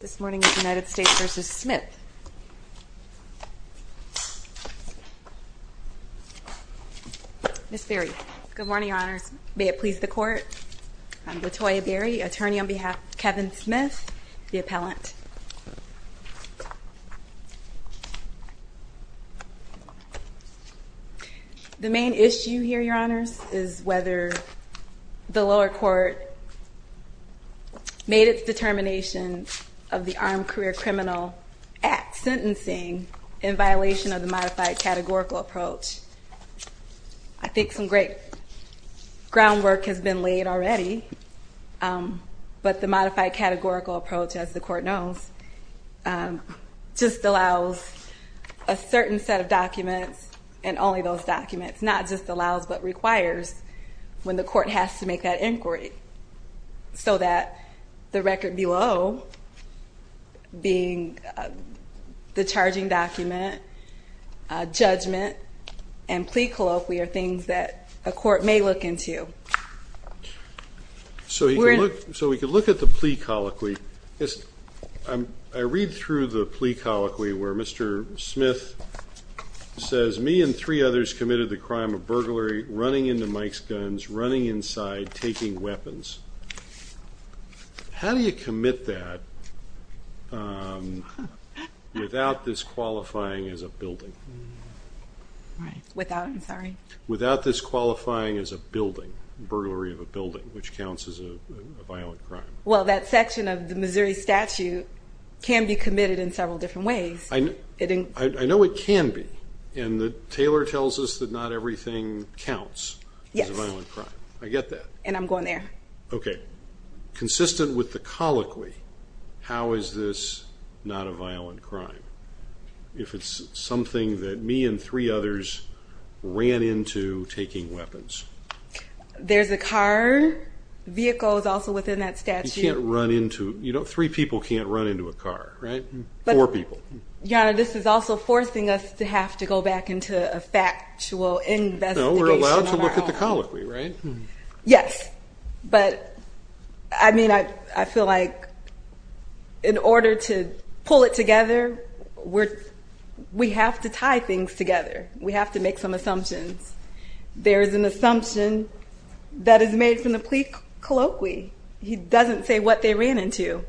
This morning the United States v. Smith. Ms. Berry. Good morning, your honors. May it please the court, I'm Latoya Berry, attorney on behalf of Kevin Smith, the appellant. The main issue here, your honors, is whether the lower court made its determination of the Armed Career Criminal Act sentencing in violation of the modified categorical approach. I think some great groundwork has been laid already, but the modified categorical approach, as the court knows, just allows a certain set of documents and only those documents. It's not just allows but requires when the court has to make that inquiry so that the record below, being the charging document, judgment, and plea colloquy are things that a court may look into. So we can look at the plea colloquy. I read through the plea colloquy where Mr. Smith says, me and three others committed the crime of burglary, running into Mike's guns, running inside, taking weapons. How do you commit that without this qualifying as a building? Without this qualifying as a building, burglary of a building, which counts as a violent crime? Well, that section of the Missouri statute can be committed in several different ways. I know it can be, and Taylor tells us that not everything counts as a violent crime. I get that. And I'm going there. Okay. Consistent with the colloquy, how is this not a violent crime if it's something that me and three others ran into taking weapons? There's a car, vehicle is also within that statute. Three people can't run into a car, right? Four people. Your Honor, this is also forcing us to have to go back into a factual investigation of our own. No, we're allowed to look at the colloquy, right? Yes, but I feel like in order to pull it together, we have to tie things together. We have to make some assumptions. There's an assumption that is made from the plea colloquy. He doesn't say what they ran into.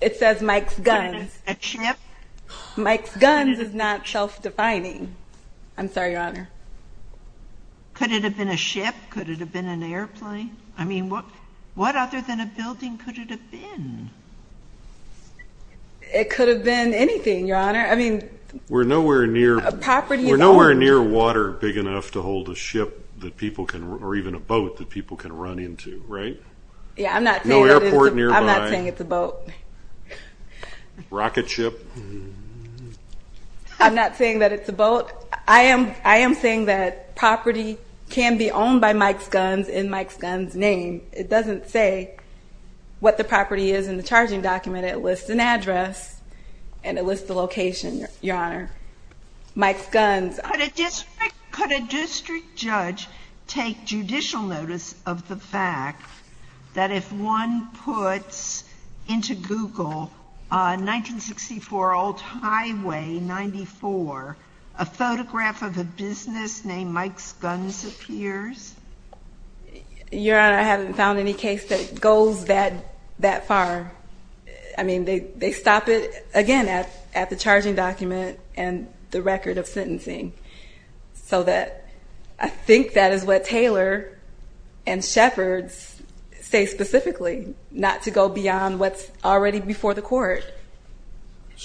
It says Mike's guns. A ship? Mike's guns is not self-defining. I'm sorry, Your Honor. Could it have been a ship? Could it have been an airplane? I mean, what other than a building could it have been? It could have been anything, Your Honor. I mean... We're nowhere near water big enough to hold a ship or even a boat that people can run into, right? No airport nearby. I'm not saying it's a boat. Rocket ship? I'm not saying that it's a boat. I am saying that property can be owned by Mike's guns in Mike's guns' name. It doesn't say what the property is in the charging document. It lists an address and it lists the location, Your Honor. Mike's guns... Could a district judge take judicial notice of the fact that if one puts into Google 1964 Old Highway 94, a photograph of a business named Mike's guns appears? Your Honor, I haven't found any case that goes that far. I mean, they stop it, again, at the charging document and the record of sentencing. So I think that is what Taylor and Shepherds say specifically, not to go beyond what's already before the court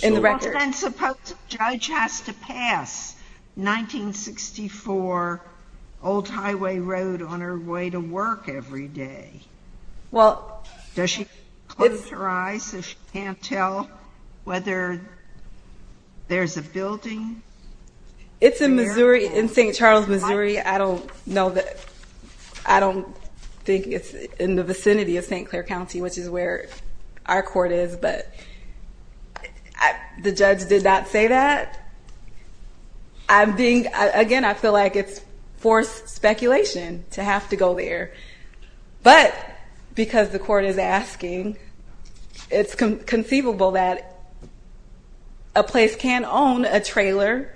in the record. Then suppose a judge has to pass 1964 Old Highway Road on her way to work every day. Well... Does she close her eyes so she can't tell whether there's a building? It's in Missouri, in St. Charles, Missouri. I don't know that... I don't think it's in the vicinity of St. Clair County, which is where our court is. The judge did not say that. Again, I feel like it's forced speculation to have to go there. But because the court is asking, it's conceivable that a place can own a trailer,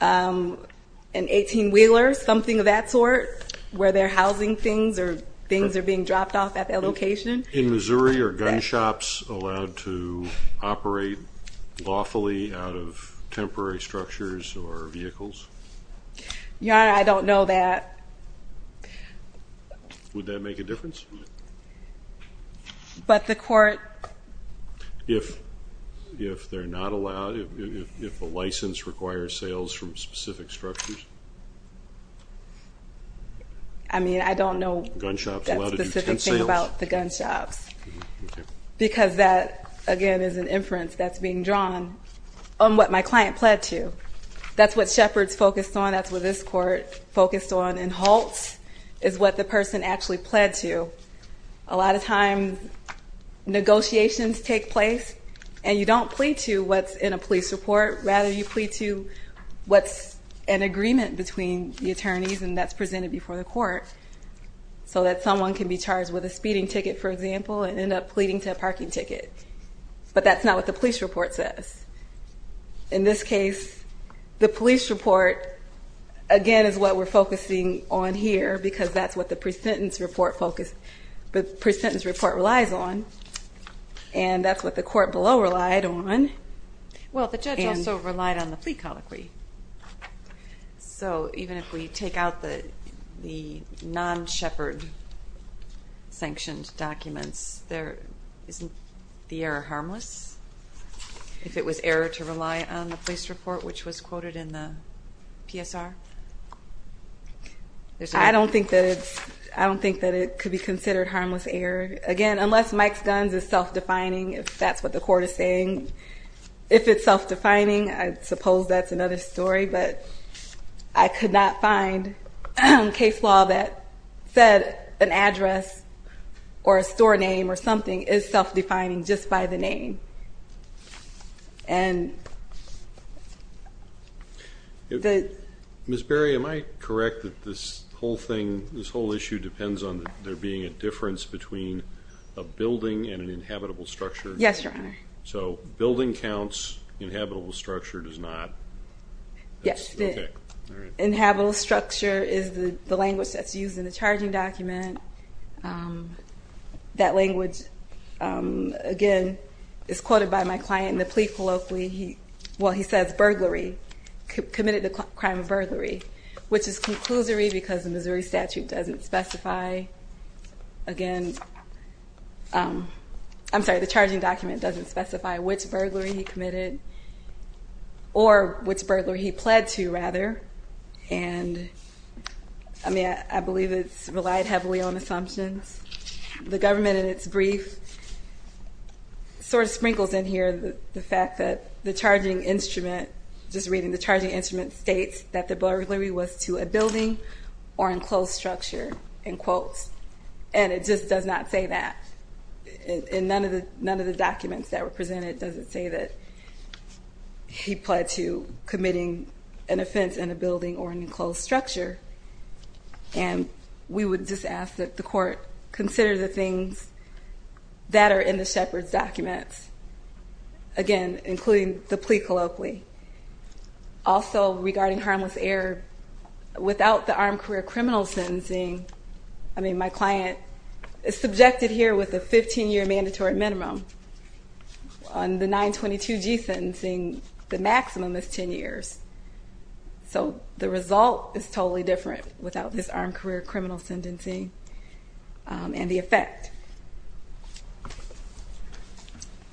an 18-wheeler, something of that sort, where they're housing things or things are being dropped off at that location. In Missouri, are gun shops allowed to operate lawfully out of temporary structures or vehicles? Your Honor, I don't know that. Would that make a difference? But the court... If they're not allowed, if the license requires sales from specific structures? I mean, I don't know that specific thing about the gun shops. Because that, again, is an inference that's being drawn on what my client pled to. That's what Shepard's focused on. That's what this court focused on. And Holt's is what the person actually pled to. A lot of times, negotiations take place, and you don't plead to what's in a police report. Rather, you plead to what's an agreement between the attorneys, and that's presented before the court, so that someone can be charged with a speeding ticket, for example, and end up pleading to a parking ticket. But that's not what the police report says. In this case, the police report, again, is what we're focusing on here, because that's what the pre-sentence report relies on. And that's what the court below relied on. Well, the judge also relied on the plea colloquy. So, even if we take out the non-Shepard-sanctioned documents, isn't the error harmless? If it was error to rely on the police report, which was quoted in the PSR? I don't think that it could be considered harmless error. Again, unless Mike's guns is self-defining, if that's what the court is saying. If it's self-defining, I suppose that's another story. But I could not find case law that said an address or a store name or something is self-defining just by the name. Ms. Berry, am I correct that this whole thing, this whole issue depends on there being a difference between a building and an inhabitable structure? Yes, Your Honor. So, building counts, inhabitable structure does not? Yes. Okay, all right. Inhabitable structure is the language that's used in the charging document. That language, again, is quoted by my client in the plea colloquy. Well, he says burglary, committed the crime of burglary, which is conclusory because the Missouri statute doesn't specify. Again, I'm sorry, the charging document doesn't specify which burglary he committed or which burglary he pled to, rather. And, I mean, I believe it's relied heavily on assumptions. The government in its brief sort of sprinkles in here the fact that the charging instrument, just reading the charging instrument, states that the burglary was to a building or enclosed structure, in quotes. And it just does not say that. And none of the documents that were presented doesn't say that he pled to committing an offense in a building or an enclosed structure. And we would just ask that the court consider the things that are in the Shepard's documents, again, including the plea colloquy. Also, regarding harmless error, without the armed career criminal sentencing, I mean, my client is subjected here with a 15-year mandatory minimum. On the 922G sentencing, the maximum is 10 years. So the result is totally different without this armed career criminal sentencing and the effect.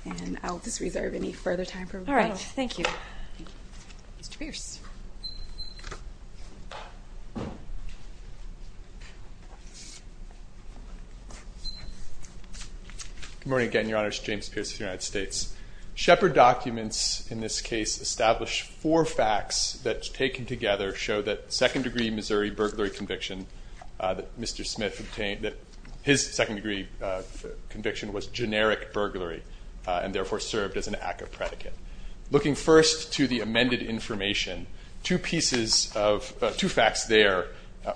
And I'll just reserve any further time for rebuttal. Thank you. Mr. Pierce. Good morning again, Your Honors. James Pierce of the United States. Shepard documents in this case establish four facts that, taken together, show that second-degree Missouri burglary conviction that Mr. Smith obtained, that his second-degree conviction was generic burglary and, therefore, served as an act of predicate. Looking first to the amended information, two facts there.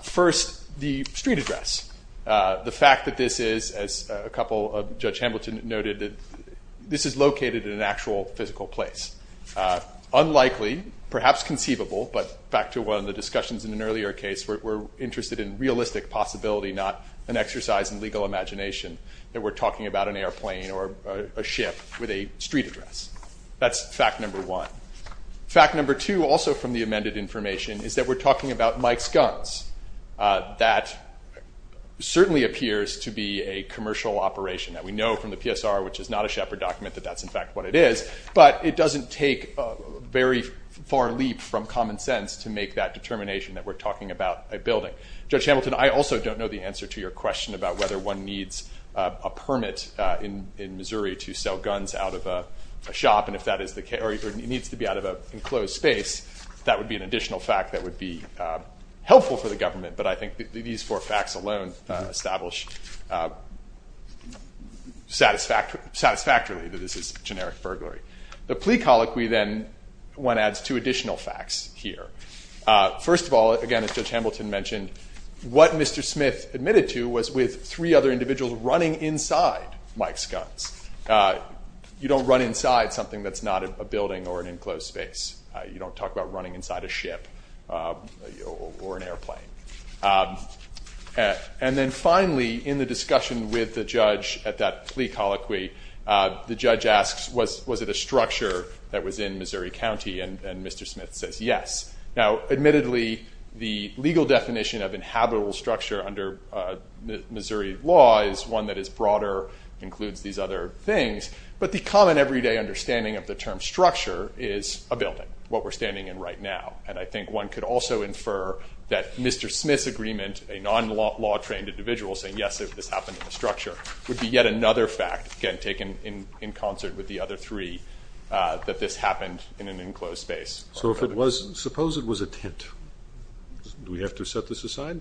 First, the street address. The fact that this is, as a couple of Judge Hamilton noted, this is located in an actual physical place. Unlikely, perhaps conceivable, but back to one of the discussions in an earlier case, we're interested in realistic possibility, not an exercise in legal imagination, that we're talking about an airplane or a ship with a street address. That's fact number one. Fact number two, also from the amended information, is that we're talking about Mike's guns. That certainly appears to be a commercial operation that we know from the PSR, which is not a Shepard document, that that's, in fact, what it is. But it doesn't take a very far leap from common sense to make that determination that we're talking about a building. Judge Hamilton, I also don't know the answer to your question about whether one needs a permit in Missouri to sell guns out of a shop, or if it needs to be out of an enclosed space. That would be an additional fact that would be helpful for the government, but I think these four facts alone establish satisfactorily that this is generic burglary. The plea colloquy, then, one adds two additional facts here. First of all, again, as Judge Hamilton mentioned, what Mr. Smith admitted to was with three other individuals running inside Mike's guns. You don't run inside something that's not a building or an enclosed space. You don't talk about running inside a ship or an airplane. And then finally, in the discussion with the judge at that plea colloquy, the judge asks, was it a structure that was in Missouri County? And Mr. Smith says yes. Now, admittedly, the legal definition of inhabitable structure under Missouri law is one that is broader, includes these other things, but the common everyday understanding of the term structure is a building, what we're standing in right now. And I think one could also infer that Mr. Smith's agreement, a non-law-trained individual saying yes, this happened in a structure, would be yet another fact, again, taken in concert with the other three, that this happened in an enclosed space. So suppose it was a tent. Do we have to set this aside?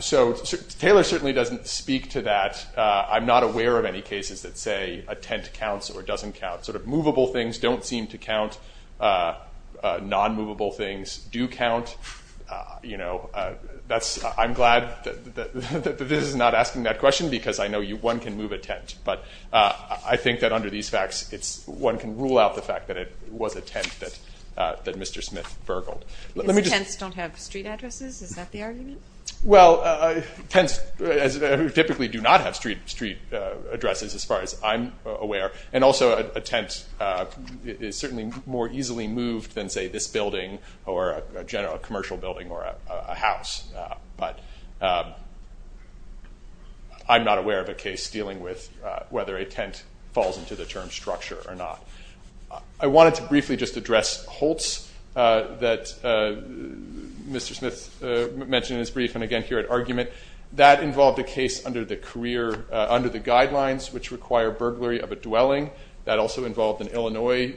So Taylor certainly doesn't speak to that. I'm not aware of any cases that say a tent counts or doesn't count. Sort of movable things don't seem to count. Non-movable things do count. You know, I'm glad that this is not asking that question because I know one can move a tent. But I think that under these facts, one can rule out the fact that it was a tent that Mr. Smith burgled. These tents don't have street addresses? Is that the argument? Well, tents typically do not have street addresses as far as I'm aware. And also a tent is certainly more easily moved than, say, this building or a general commercial building or a house. But I'm not aware of a case dealing with whether a tent falls into the term structure or not. I wanted to briefly just address Holtz that Mr. Smith mentioned in his brief and again here at argument. That involved a case under the guidelines which require burglary of a dwelling. That also involved an Illinois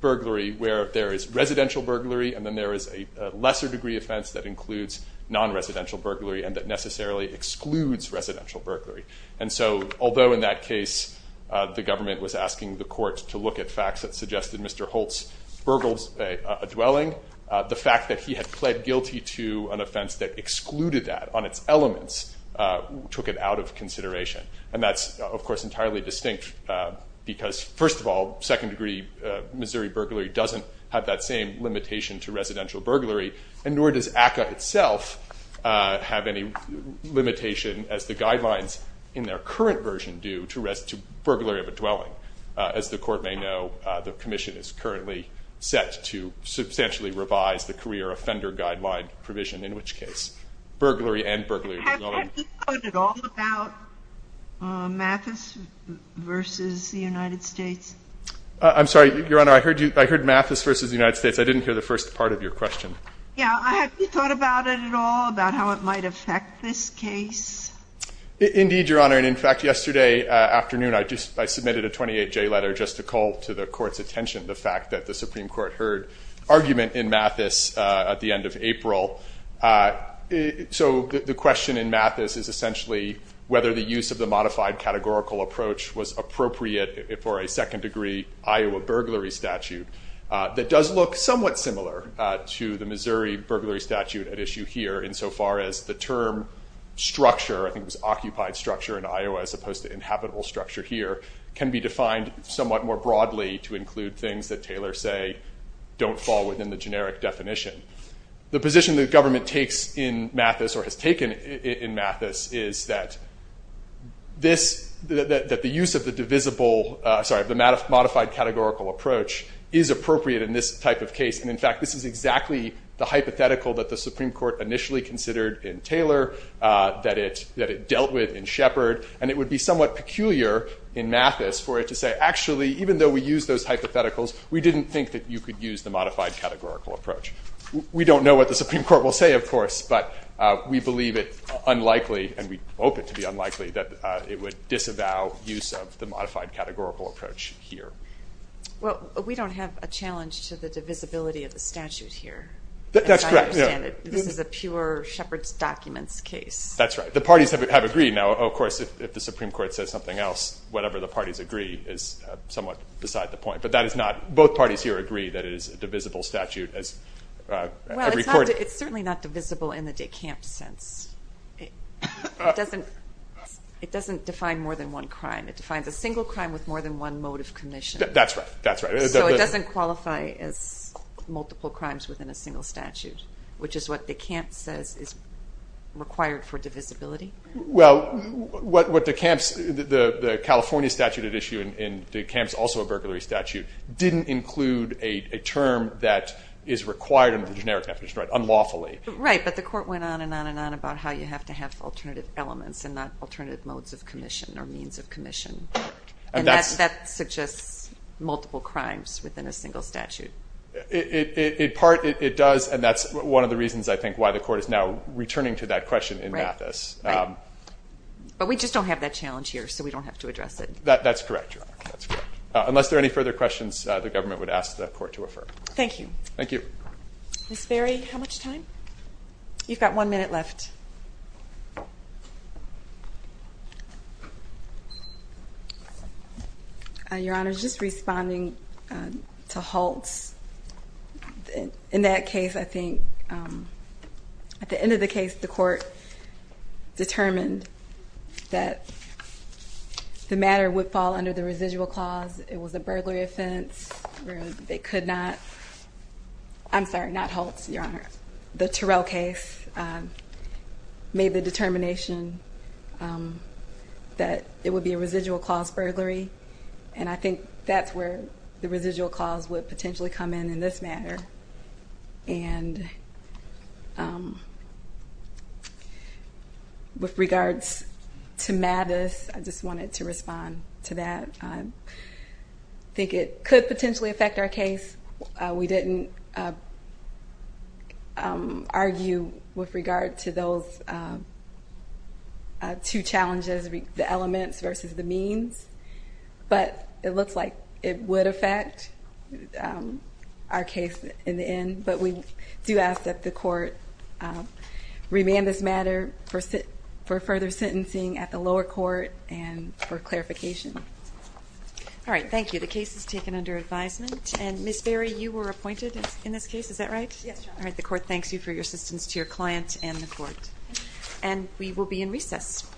burglary where there is residential burglary and then there is a lesser degree offense that includes non-residential burglary and that necessarily excludes residential burglary. And so although in that case the government was asking the courts to look that he had pled guilty to an offense that excluded that on its elements, took it out of consideration. And that's, of course, entirely distinct because, first of all, second degree Missouri burglary doesn't have that same limitation to residential burglary and nor does ACCA itself have any limitation, as the guidelines in their current version do, to burglary of a dwelling. As the court may know, the commission is currently set to substantially revise the career offender guideline provision in which case burglary and burglary of a dwelling. Have you thought at all about Mathis versus the United States? I'm sorry, Your Honor. I heard you. I heard Mathis versus the United States. I didn't hear the first part of your question. Yeah. Have you thought about it at all about how it might affect this case? Indeed, Your Honor. And, in fact, yesterday afternoon I submitted a 28-J letter just to call to the court's attention the fact that the Supreme Court heard argument in Mathis at the end of April. So the question in Mathis is essentially whether the use of the modified categorical approach was appropriate for a second degree Iowa burglary statute that does look somewhat similar to the Missouri burglary statute at issue here insofar as the term structure, I think it was occupied structure in Iowa as opposed to inhabitable structure here, can be defined somewhat more broadly to include things that Taylor say don't fall within the generic definition. The position the government takes in Mathis or has taken in Mathis is that this, that the use of the divisible, sorry, the modified categorical approach is appropriate in this type of case. And, in fact, this is exactly the hypothetical that the Supreme Court initially considered in Taylor that it dealt with in Shepard. And it would be somewhat peculiar in Mathis for it to say, actually, even though we use those hypotheticals, we didn't think that you could use the modified categorical approach. We don't know what the Supreme Court will say, of course, but we believe it unlikely, and we hope it to be unlikely, that it would disavow use of the modified categorical approach here. Well, we don't have a challenge to the divisibility of the statute here. That's correct. I understand. This is a pure Shepard's documents case. That's right. The parties have agreed. Now, of course, if the Supreme Court says something else, whatever the parties agree is somewhat beside the point. But that is not, both parties here agree that it is a divisible statute. Well, it's certainly not divisible in the de Camp sense. It doesn't define more than one crime. It defines a single crime with more than one motive commission. That's right. So it doesn't qualify as multiple crimes within a single statute. Which is what de Camp says is required for divisibility. Well, what de Camp's, the California statute at issue, and de Camp's also a burglary statute, didn't include a term that is required under the generic definition, unlawfully. Right, but the court went on and on and on about how you have to have alternative elements and not alternative modes of commission or means of commission. And that suggests multiple crimes within a single statute. In part, it does. And that's one of the reasons, I think, why the court is now returning to that question in Mathis. Right. But we just don't have that challenge here, so we don't have to address it. That's correct, Your Honor. That's correct. Unless there are any further questions, the government would ask the court to refer. Thank you. Thank you. Ms. Berry, how much time? You've got one minute left. Your Honor, just responding to Holtz. In that case, I think at the end of the case, the court determined that the matter would fall under the residual clause. It was a burglary offense. They could not. I'm sorry, not Holtz, Your Honor. The Terrell case. Made the determination that it would be a residual clause burglary. And I think that's where the residual clause would potentially come in in this matter. And with regards to Mathis, I just wanted to respond to that. I think it could potentially affect our case. We didn't argue with regard to those two challenges, the elements versus the means. But it looks like it would affect our case in the end. But we do ask that the court remand this matter for further sentencing at the lower court and for clarification. All right, thank you. The case is taken under advisement. And Ms. Berry, you were appointed in this case, is that right? Yes, Your Honor. All right, the court thanks you for your assistance to your client and the court. And we will be in recess. Thank you so much. Absolutely.